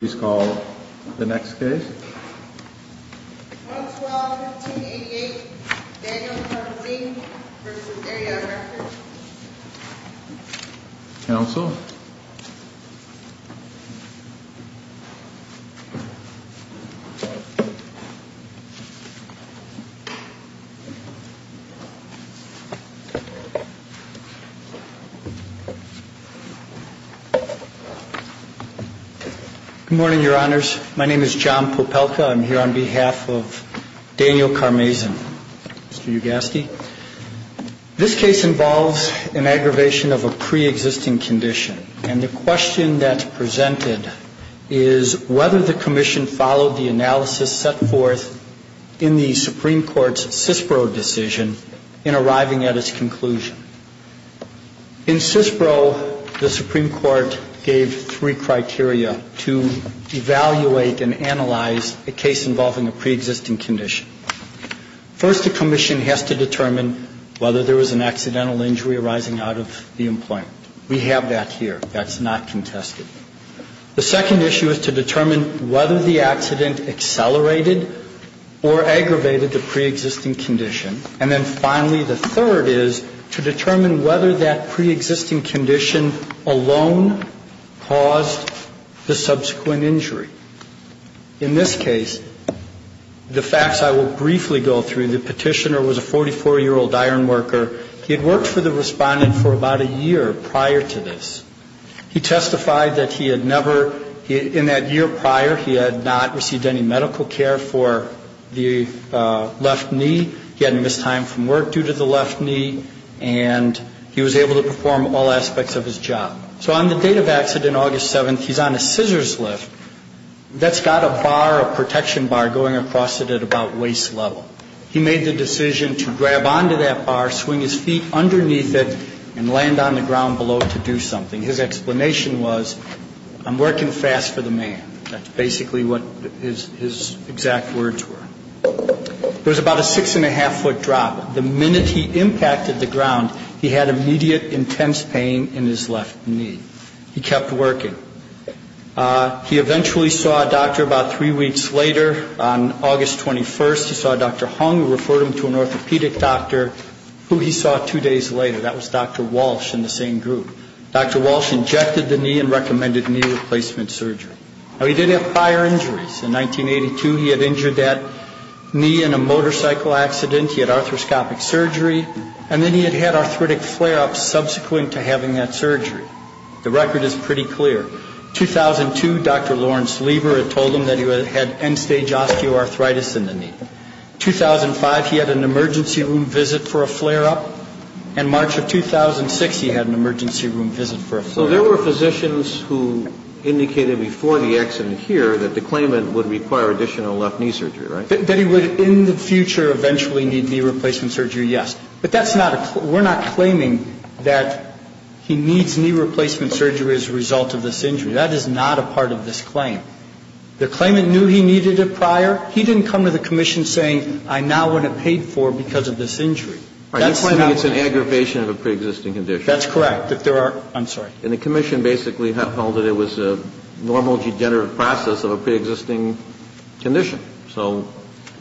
Please call the next case. 112-1588 Daniel Karmazin v. Area Director Counsel Good morning, Your Honors. My name is John Popelka. I'm here on behalf of Daniel Karmazin, Mr. Ugaski. This case involves an aggravation of a pre-existing condition. And the question that's presented is whether the Commission followed the analysis set forth in the Supreme Court's CISPRO decision in arriving at its conclusion. In CISPRO, the Supreme Court gave three criteria to evaluate and analyze a case involving a pre-existing condition. First, the Commission has to determine whether there was an accidental injury arising out of the employment. We have that here. That's not contested. The second issue is to determine whether the accident accelerated or aggravated the pre-existing condition. And then finally, the third is to determine whether that pre-existing condition alone caused the subsequent injury. In this case, the facts I will briefly go through, the petitioner was a 44-year-old iron worker. He had worked for the respondent for about a year prior to this. He testified that he had never, in that year prior, he had not received any medical care for the left knee. He had missed time from work due to the left knee. And he was able to perform all aspects of his job. So on the date of accident, August 7th, he's on a scissors lift that's got a bar, a protection bar, going across it at about waist level. He made the decision to grab onto that bar, swing his feet underneath it, and land on the ground below to do something. His explanation was, I'm working fast for the man. That's basically what his exact words were. There was about a six-and-a-half-foot drop. The minute he impacted the ground, he had immediate intense pain in his left knee. He kept working. He eventually saw a doctor about three weeks later. On August 21st, he saw Dr. Hung, who referred him to an orthopedic doctor, who he saw two days later. That was Dr. Walsh in the same group. Dr. Walsh injected the knee and recommended knee replacement surgery. Now, he did have prior injuries. In 1982, he had injured that knee in a motorcycle accident. He had arthroscopic surgery. And then he had had arthritic flare-ups subsequent to having that surgery. The record is pretty clear. 2002, Dr. Lawrence Lever had told him that he had end-stage osteoarthritis in the knee. 2005, he had an emergency room visit for a flare-up. And March of 2006, he had an emergency room visit for a flare-up. So there were physicians who indicated before the accident here that the claimant would require additional left knee surgery, right? That he would, in the future, eventually need knee replacement surgery, yes. But that's not a claim. We're not claiming that he needs knee replacement surgery as a result of this injury. That is not a part of this claim. The claimant knew he needed it prior. He didn't come to the commission saying, I now want it paid for because of this injury. That's not a claim. You're claiming it's an aggravation of a preexisting condition. That's correct. That there are, I'm sorry. And the commission basically held that it was a normal degenerative process of a preexisting condition. So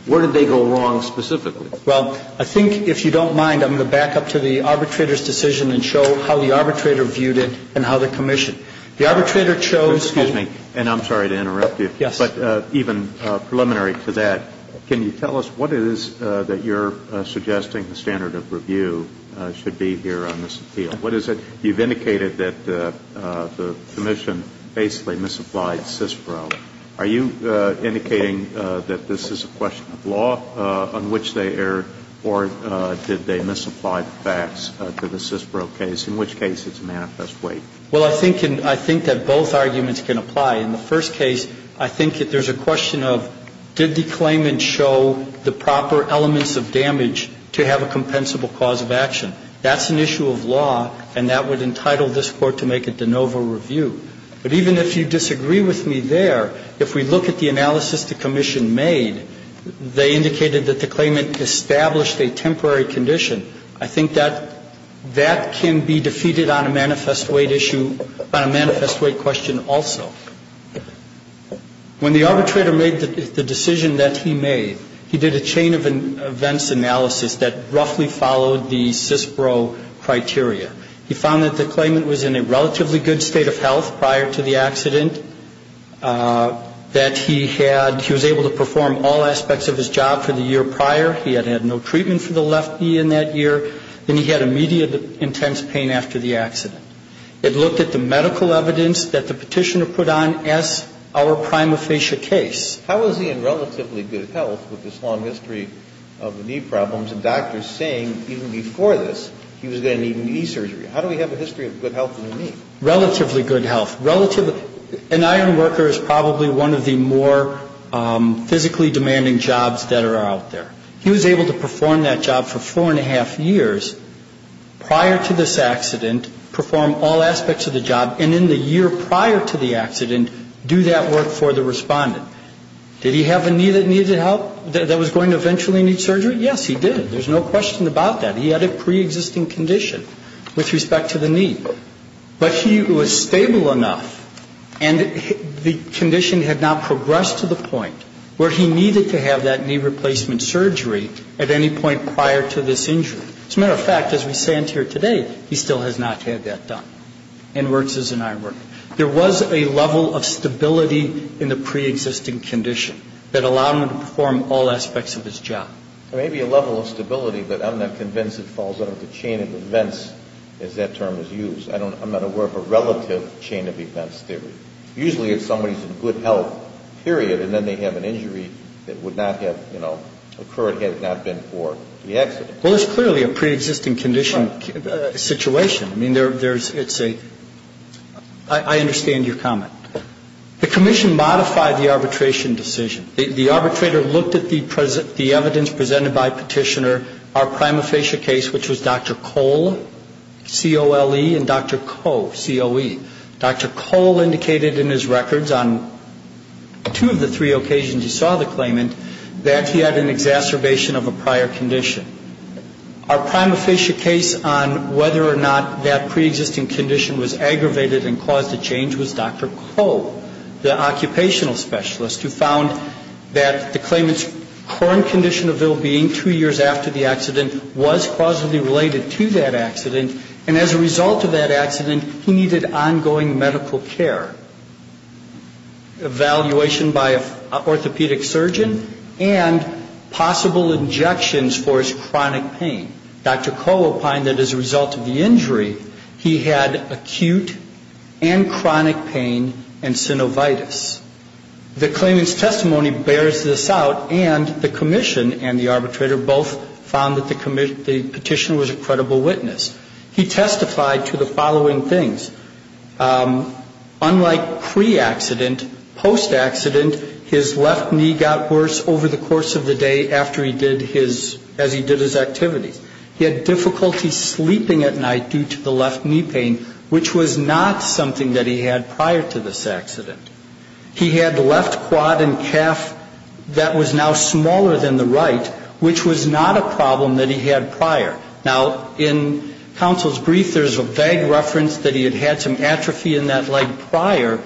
where did they go wrong specifically? Well, I think, if you don't mind, I'm going to back up to the arbitrator's decision and show how the arbitrator viewed it and how the commission. The arbitrator chose. Excuse me. And I'm sorry to interrupt you. Yes. But even preliminary to that, can you tell us what it is that you're suggesting the standard of review should be here on this appeal? What is it? You've indicated that the commission basically misapplied CISPRO. Are you indicating that this is a question of law on which they erred, or did they misapply facts to the CISPRO case, in which case it's a manifest weight? Well, I think that both arguments can apply. In the first case, I think that there's a question of, did the claimant show the proper elements of damage to have a compensable cause of action? That's an issue of law, and that would entitle this Court to make a de novo review. But even if you disagree with me there, if we look at the analysis the commission made, they indicated that the claimant established a temporary condition. I think that that can be defeated on a manifest weight issue, on a manifest weight question also. When the arbitrator made the decision that he made, he did a chain of events analysis that roughly followed the CISPRO criteria. He found that the claimant was in a relatively good state of health prior to the accident, that he had he was able to perform all aspects of his job for the year prior. He had had no treatment for the left knee in that year, and he had immediate intense pain after the accident. It looked at the medical evidence that the Petitioner put on as our prima facie case. How is he in relatively good health with this long history of knee problems and doctors saying even before this he was going to need knee surgery? How do we have a history of good health of the knee? Relatively good health. Relatively. An iron worker is probably one of the more physically demanding jobs that are out there. He was able to perform that job for four and a half years prior to this accident, perform all aspects of the job, and in the year prior to the accident, do that work for the Respondent. Did he have a knee that needed help, that was going to eventually need surgery? Yes, he did. There's no question about that. He had a preexisting condition with respect to the knee. But he was stable enough, and the condition had not progressed to the point where he needed to have that knee replacement surgery at any point prior to this injury. As a matter of fact, as we stand here today, he still has not had that done, and works as an iron worker. There was a level of stability in the preexisting condition that allowed him to perform all aspects of his job. There may be a level of stability, but I'm not convinced it falls out of the chain of events, as that term is used. I'm not aware of a relative chain of events theory. Usually, if somebody's in good health, period, and then they have an injury that would not have, you know, occurred had it not been for the accident. Well, it's clearly a preexisting condition situation. I mean, there's, it's a, I understand your comment. The commission modified the arbitration decision. The arbitrator looked at the evidence presented by Petitioner. Our prima facie case, which was Dr. Cole, C-O-L-E, and Dr. Coe, C-O-E. Dr. Cole indicated in his records on two of the three occasions he saw the claimant that he had an exacerbation of a prior condition. Our prima facie case on whether or not that preexisting condition was aggravated and caused a change was Dr. Cole, the occupational specialist, who found that the claimant's current condition of ill-being two years after the accident was causally related to that accident, and as a result of that accident, he needed ongoing medical care, evaluation by an orthopedic surgeon, and possible injections for his chronic pain. Dr. Cole opined that as a result of the injury, he had acute and chronic pain and synovitis. The claimant's testimony bears this out, and the commission and the arbitrator both found that the petitioner was a credible witness. He testified to the following things. Unlike pre-accident, post-accident, his left knee got worse over the course of the day after he did his, as he did his activities. He had difficulty sleeping at night due to the left knee pain, which was not something that he had prior to this accident. He had the left quad and calf that was now smaller than the right, which was not a problem that he had prior. Now, in counsel's brief, there's a vague reference that he had had some atrophy in that leg prior.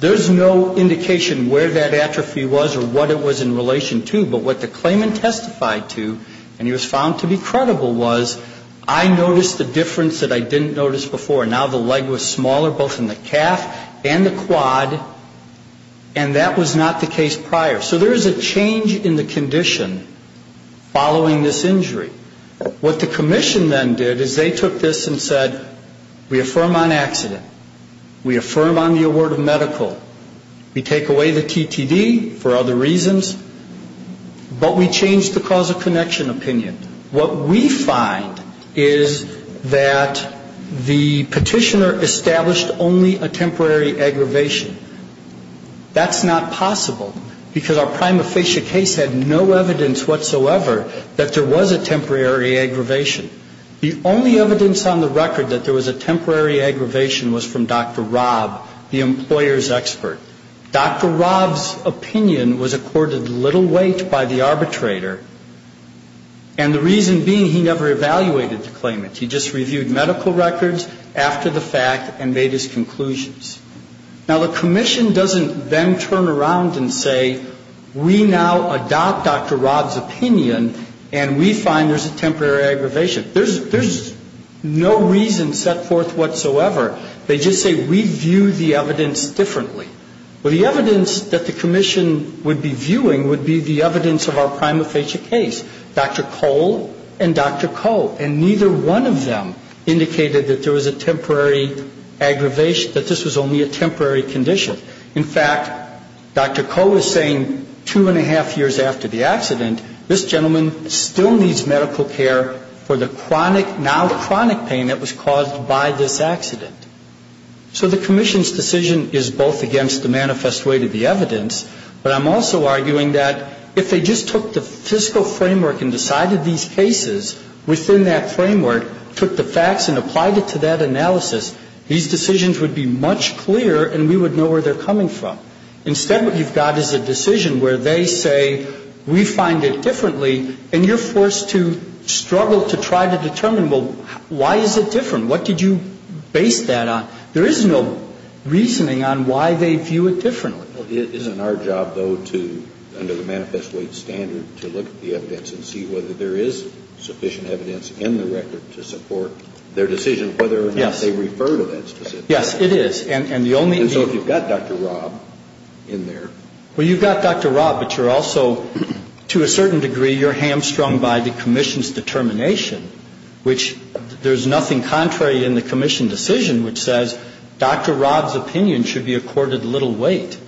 There's no indication where that atrophy was or what it was in relation to, but what the claimant testified to, and he was found to be credible, was I noticed a difference that I didn't notice before. Now the leg was smaller, both in the calf and the quad, and that was not the case prior. So there is a change in the condition following this injury. What the commission then did is they took this and said, we affirm on accident. We affirm on the award of medical. We take away the TTD for other reasons, but we change the cause of connection opinion. What we find is that the petitioner established only a temporary aggravation. That's not possible because our prima facie case had no evidence whatsoever that there was a temporary aggravation. The only evidence on the record that there was a temporary aggravation was from Dr. Rob, the employer's expert. Dr. Rob's opinion was accorded little weight by the arbitrator, and the reason being he never evaluated the claimant. He just reviewed medical records after the fact and made his conclusions. Now the commission doesn't then turn around and say, we now adopt Dr. Rob's opinion, and we find there's a temporary aggravation. There's no reason set forth whatsoever. They just say we view the evidence differently. Well, the evidence that the commission would be viewing would be the evidence of our prima facie case, Dr. Cole and Dr. Coe, and neither one of them indicated that there was a temporary aggravation, nor did they wish that this was only a temporary condition. In fact, Dr. Cole is saying two and a half years after the accident, this gentleman still needs medical care for the chronic, now chronic pain that was caused by this accident. So the commission's decision is both against the manifest way to the evidence, but I'm also arguing that if they just took the fiscal framework and decided these cases within that framework, took the facts and applied it to that analysis, these decisions would be much clearer and we would know where they're coming from. Instead, what you've got is a decision where they say we find it differently, and you're forced to struggle to try to determine, well, why is it different? What did you base that on? There is no reasoning on why they view it differently. Well, isn't our job, though, to, under the manifest way standard, to look at the evidence and see whether there is sufficient evidence in the record to support their decision, whether or not they refer to that specific evidence. Yes, it is. And so if you've got Dr. Rob in there. Well, you've got Dr. Rob, but you're also, to a certain degree, you're hamstrung by the commission's determination, which there's nothing contrary in the commission decision which says Dr. Rob's opinion should be accorded little weight.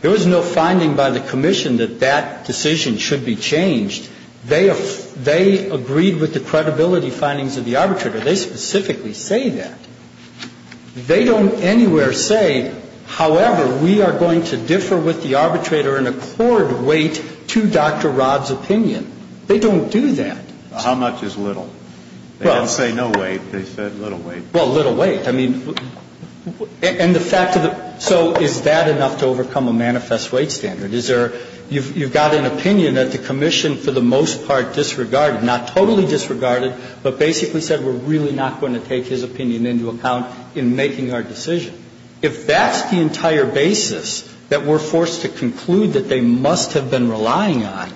There was no finding by the commission that that decision should be changed. They agreed with the credibility findings of the arbitrator. They specifically say that. They don't anywhere say, however, we are going to differ with the arbitrator and accord weight to Dr. Rob's opinion. They don't do that. How much is little? They didn't say no weight. They said little weight. Well, little weight. I mean, and the fact of the, so is that enough to overcome a manifest weight standard? Is there, you've got an opinion that the commission for the most part disregarded, not totally disregarded, but basically said we're really not going to take his opinion into account in making our decision. If that's the entire basis that we're forced to conclude that they must have been relying on,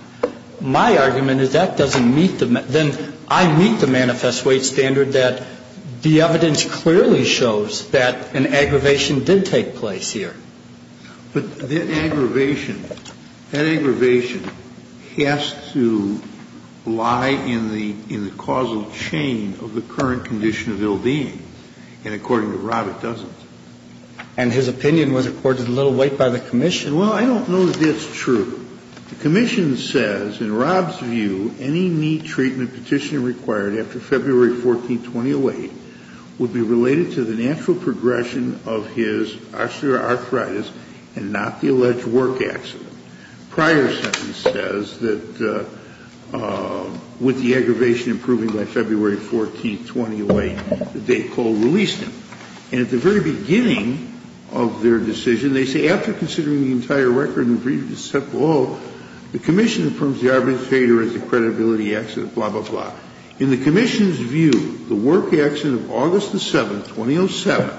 my argument is that doesn't meet the, then I meet the manifest weight standard that the evidence clearly shows that an aggravation did take place here. But that aggravation, that aggravation has to lie in the causal chain of the current condition of ill being. And according to Rob, it doesn't. And his opinion was accorded little weight by the commission. Well, I don't know that that's true. The commission says, in Rob's view, any knee treatment petition required after February 14, 2008 would be related to the natural progression of his osteoarthritis and not the alleged work accident. Prior sentence says that with the aggravation improving by February 14, 2008, they called release him. And at the very beginning of their decision, they say, In the commission's view, the work accident of August 7, 2007,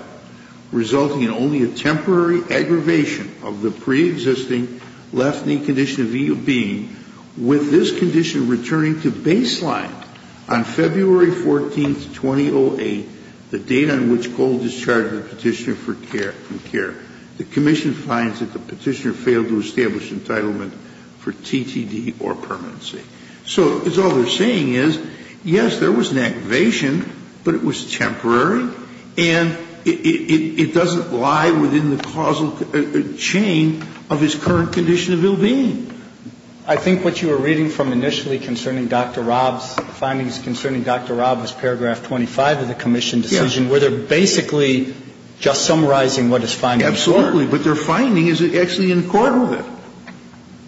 resulting in only a temporary aggravation of the preexisting left knee condition of ill being, with this condition returning to baseline on February 14, 2008, the date on which Gold discharged the petitioner failed to establish entitlement for TTD or permanency. So all they're saying is, yes, there was an aggravation, but it was temporary, and it doesn't lie within the causal chain of his current condition of ill being. I think what you were reading from initially concerning Dr. Rob's findings concerning Dr. Rob was paragraph 25 of the commission decision, where they're basically just summarizing what his findings were. Absolutely. But their finding is actually in accord with it.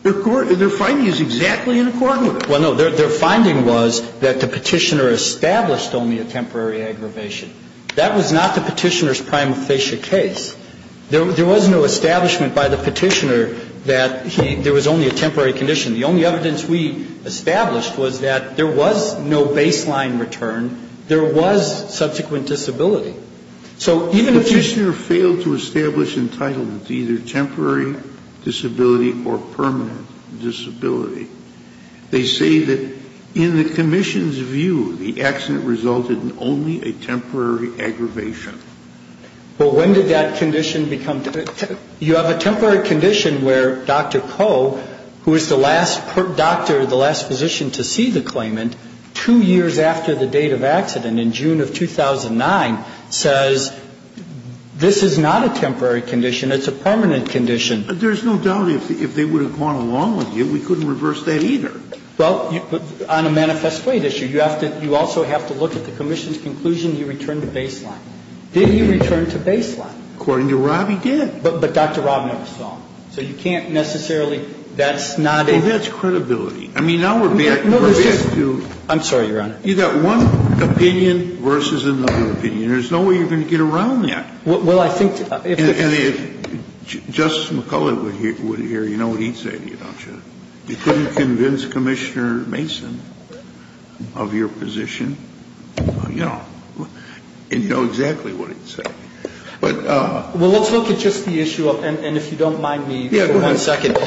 Their finding is exactly in accord with it. Well, no, their finding was that the petitioner established only a temporary aggravation. That was not the petitioner's prima facie case. There was no establishment by the petitioner that there was only a temporary condition. The only evidence we established was that there was no baseline return. There was subsequent disability. The petitioner failed to establish entitlement to either temporary disability or permanent disability. They say that in the commission's view, the accident resulted in only a temporary aggravation. Well, when did that condition become? You have a temporary condition where Dr. Koh, who is the last doctor, the last physician to see the claimant, two years after the date of accident, in June of 2009, says this is not a temporary condition. It's a permanent condition. There's no doubt if they would have gone along with you, we couldn't reverse that either. Well, on a manifest plate issue, you have to also have to look at the commission's conclusion. He returned to baseline. Did he return to baseline? According to Rob, he did. But Dr. Rob never saw him. So you can't necessarily, that's not a. Well, that's credibility. I mean, now we're back to. I'm sorry, Your Honor. You've got one opinion versus another opinion. There's no way you're going to get around that. Well, I think. And if Justice McCullough were here, you know what he'd say to you, don't you? You couldn't convince Commissioner Mason of your position. You know. And you know exactly what he'd say. But. Well, let's look at just the issue of, and if you don't mind me. Yeah, go ahead. One second.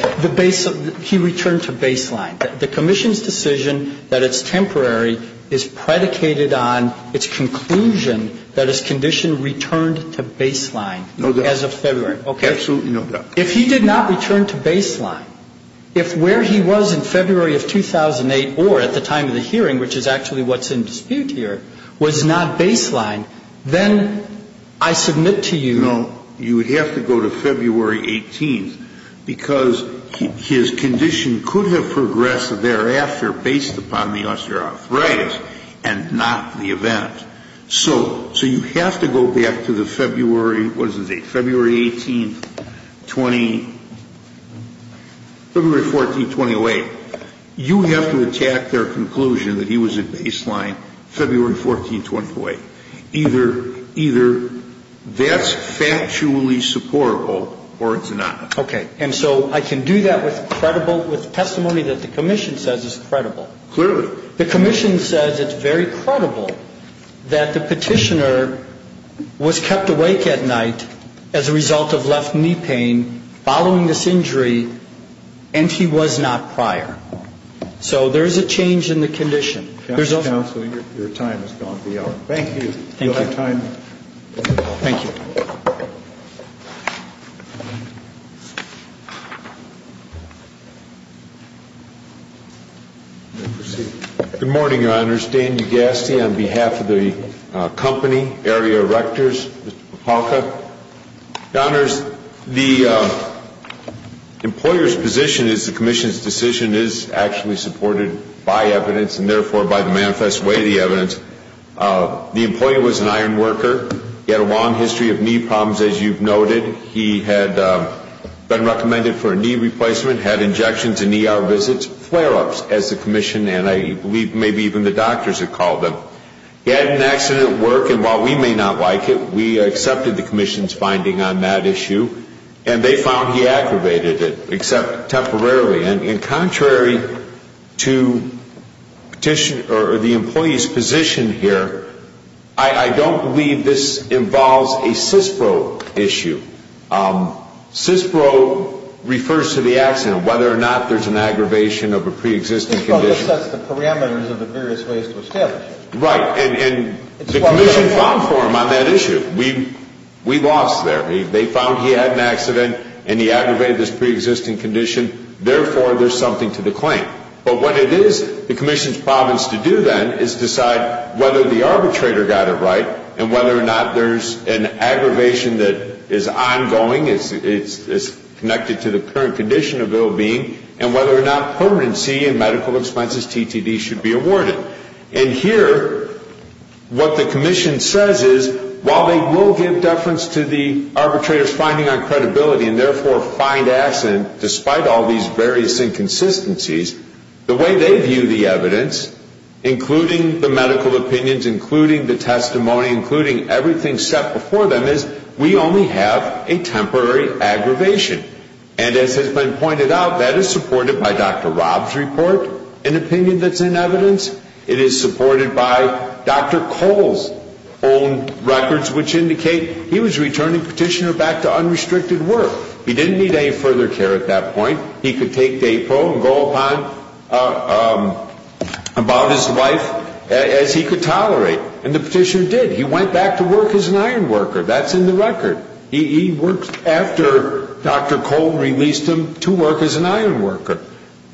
He returned to baseline. The commission's decision that it's temporary is predicated on its conclusion that his condition returned to baseline. No doubt. As of February. Absolutely no doubt. If he did not return to baseline, if where he was in February of 2008 or at the time of the hearing, which is actually what's in dispute here, was not baseline, then I submit to you. You know, you would have to go to February 18th because his condition could have progressed thereafter based upon the osteoarthritis and not the event. So you have to go back to the February, what is the date, February 18th, February 14th, 2008. You have to attack their conclusion that he was at baseline February 14th, February 15th, 2008. Either that's factually supportable or it's not. Okay. And so I can do that with credible, with testimony that the commission says is credible. Clearly. The commission says it's very credible that the petitioner was kept awake at night as a result of left knee pain following this injury and he was not prior. So there's a change in the condition. Counselor, your time has gone to the hour. Thank you. You'll have time. Thank you. Good morning, Your Honors. Dan Ugasti on behalf of the company, Area Erectors, Mr. Popalka. Your Honors, the employer's position is the commission's decision is actually supported by evidence and therefore by the manifest way of the evidence. The employee was an iron worker. He had a long history of knee problems, as you've noted. He had been recommended for a knee replacement, had injections and ER visits, flare-ups, as the commission and I believe maybe even the doctors had called them. He had an accident at work and while we may not like it, we accepted the commission's finding on that issue and they found he aggravated it, except temporarily. And contrary to the employee's position here, I don't believe this involves a CISPRO issue. CISPRO refers to the accident, whether or not there's an aggravation of a preexisting condition. Well, that sets the parameters of the various ways to establish it. Right. And the commission found for him on that issue. We lost there. They found he had an accident and he aggravated this preexisting condition. Therefore, there's something to the claim. But what it is the commission's problems to do then is decide whether the arbitrator got it right and whether or not there's an aggravation that is ongoing, is connected to the current condition of ill-being, and whether or not permanency and medical expenses, TTD, should be awarded. And here, what the commission says is, while they will give deference to the various inconsistencies, the way they view the evidence, including the medical opinions, including the testimony, including everything set before them, is we only have a temporary aggravation. And as has been pointed out, that is supported by Dr. Rob's report, an opinion that's in evidence. It is supported by Dr. Cole's own records, which indicate he was returning petitioner back to unrestricted work. He didn't need any further care at that point. He could take DAPO and go about his life as he could tolerate. And the petitioner did. He went back to work as an iron worker. That's in the record. He worked after Dr. Cole released him to work as an iron worker.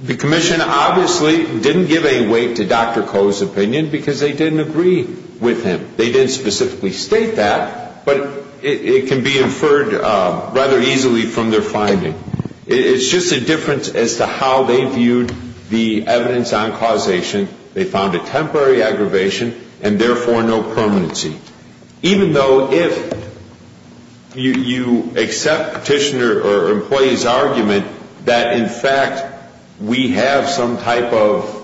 The commission obviously didn't give any weight to Dr. Cole's opinion because they didn't agree with him. They didn't specifically state that, but it can be inferred rather easily from their finding. It's just a difference as to how they viewed the evidence on causation. They found a temporary aggravation and, therefore, no permanency. Even though if you accept petitioner or employee's argument that, in fact, we have some type of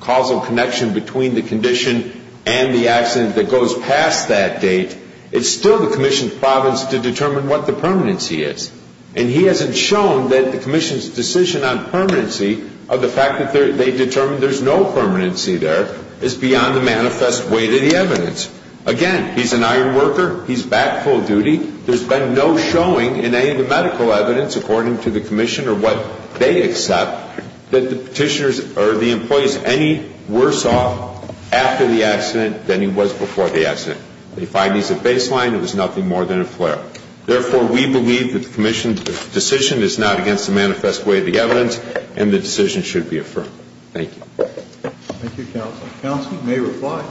causal connection between the condition and the accident that goes past that date, it's still the commission's province to determine what the permanency is. And he hasn't shown that the commission's decision on permanency of the fact that they determined there's no permanency there is beyond the manifest weight of the evidence. Again, he's an iron worker. He's back full duty. There's been no showing in any of the medical evidence, according to the petitioners or the employees, any worse off after the accident than he was before the accident. They find he's a baseline. It was nothing more than a flare-up. Therefore, we believe that the commission's decision is not against the manifest weight of the evidence, and the decision should be affirmed. Thank you. Thank you, Counsel. Counsel may reply.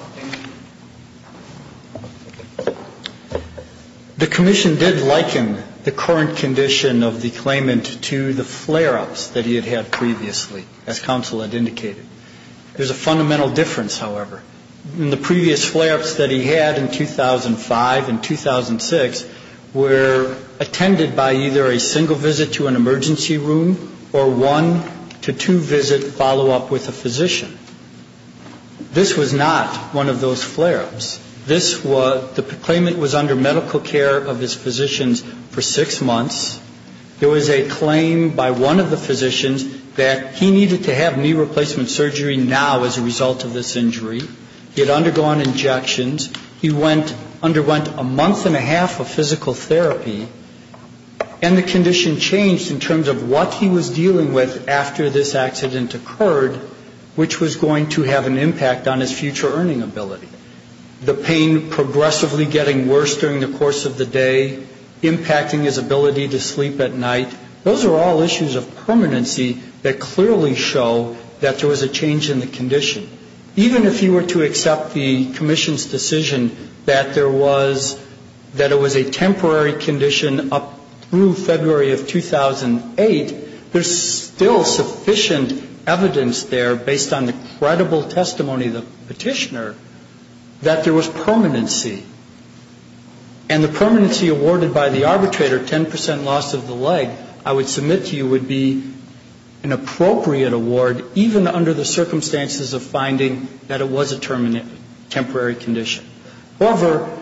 The commission did liken the current condition of the claimant to the flare-ups that he had had previously, as Counsel had indicated. There's a fundamental difference, however. In the previous flare-ups that he had in 2005 and 2006 were attended by either a single visit to an emergency room or one to two visit follow-up with a physician. This was not one of those flare-ups. This was the claimant was under medical care of his physicians for six months. There was a claim by one of the physicians that he needed to have knee replacement surgery now as a result of this injury. He had undergone injections. He underwent a month and a half of physical therapy, and the condition changed in terms of what he was dealing with after this accident occurred, which was going to have an impact on his future earning ability. The pain progressively getting worse during the course of the day, impacting his ability to sleep at night, those are all issues of permanency that clearly show that there was a change in the condition. Even if you were to accept the commission's decision that there was, that it was a temporary condition up through February of 2008, there's still sufficient evidence there based on the credible testimony of the petitioner that there was permanency. And the permanency awarded by the arbitrator, 10 percent loss of the leg, I would submit to you would be an appropriate award even under the circumstances of finding that it was a temporary condition. However,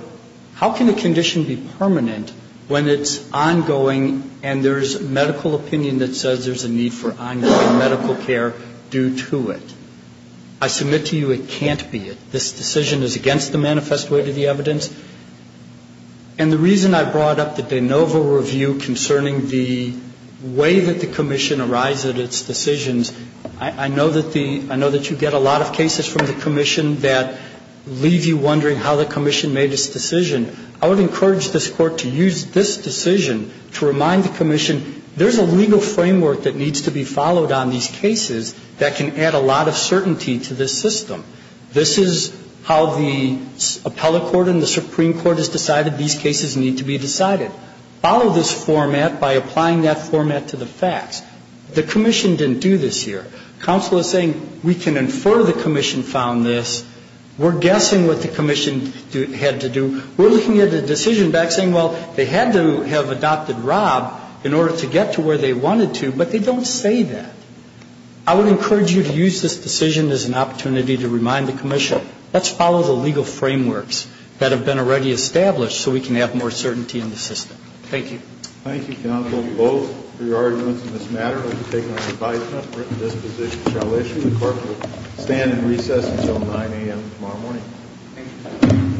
how can a condition be permanent when it's ongoing and there's medical opinion that says there's a need for ongoing medical care due to it? I submit to you it can't be. This decision is against the manifest way to the evidence. And the reason I brought up the de novo review concerning the way that the commission arrives at its decisions, I know that you get a lot of cases from the commission that leave you wondering how the commission made its decision. I would encourage this Court to use this decision to remind the commission there's a legal framework that needs to be followed on these cases that can add a lot of certainty to this system. This is how the appellate court and the Supreme Court has decided these cases need to be decided. Follow this format by applying that format to the facts. The commission didn't do this here. Counsel is saying we can infer the commission found this. We're guessing what the commission had to do. We're looking at a decision back saying, well, they had to have adopted Rob in order to get to where they wanted to, but they don't say that. I would encourage you to use this decision as an opportunity to remind the commission let's follow the legal frameworks that have been already established so we can have more certainty in the system. Thank you. Thank you, counsel, both for your arguments in this matter. I'd like to take my advisement that this position shall issue. The Court will stand in recess until 9 a.m. tomorrow morning. Thank you.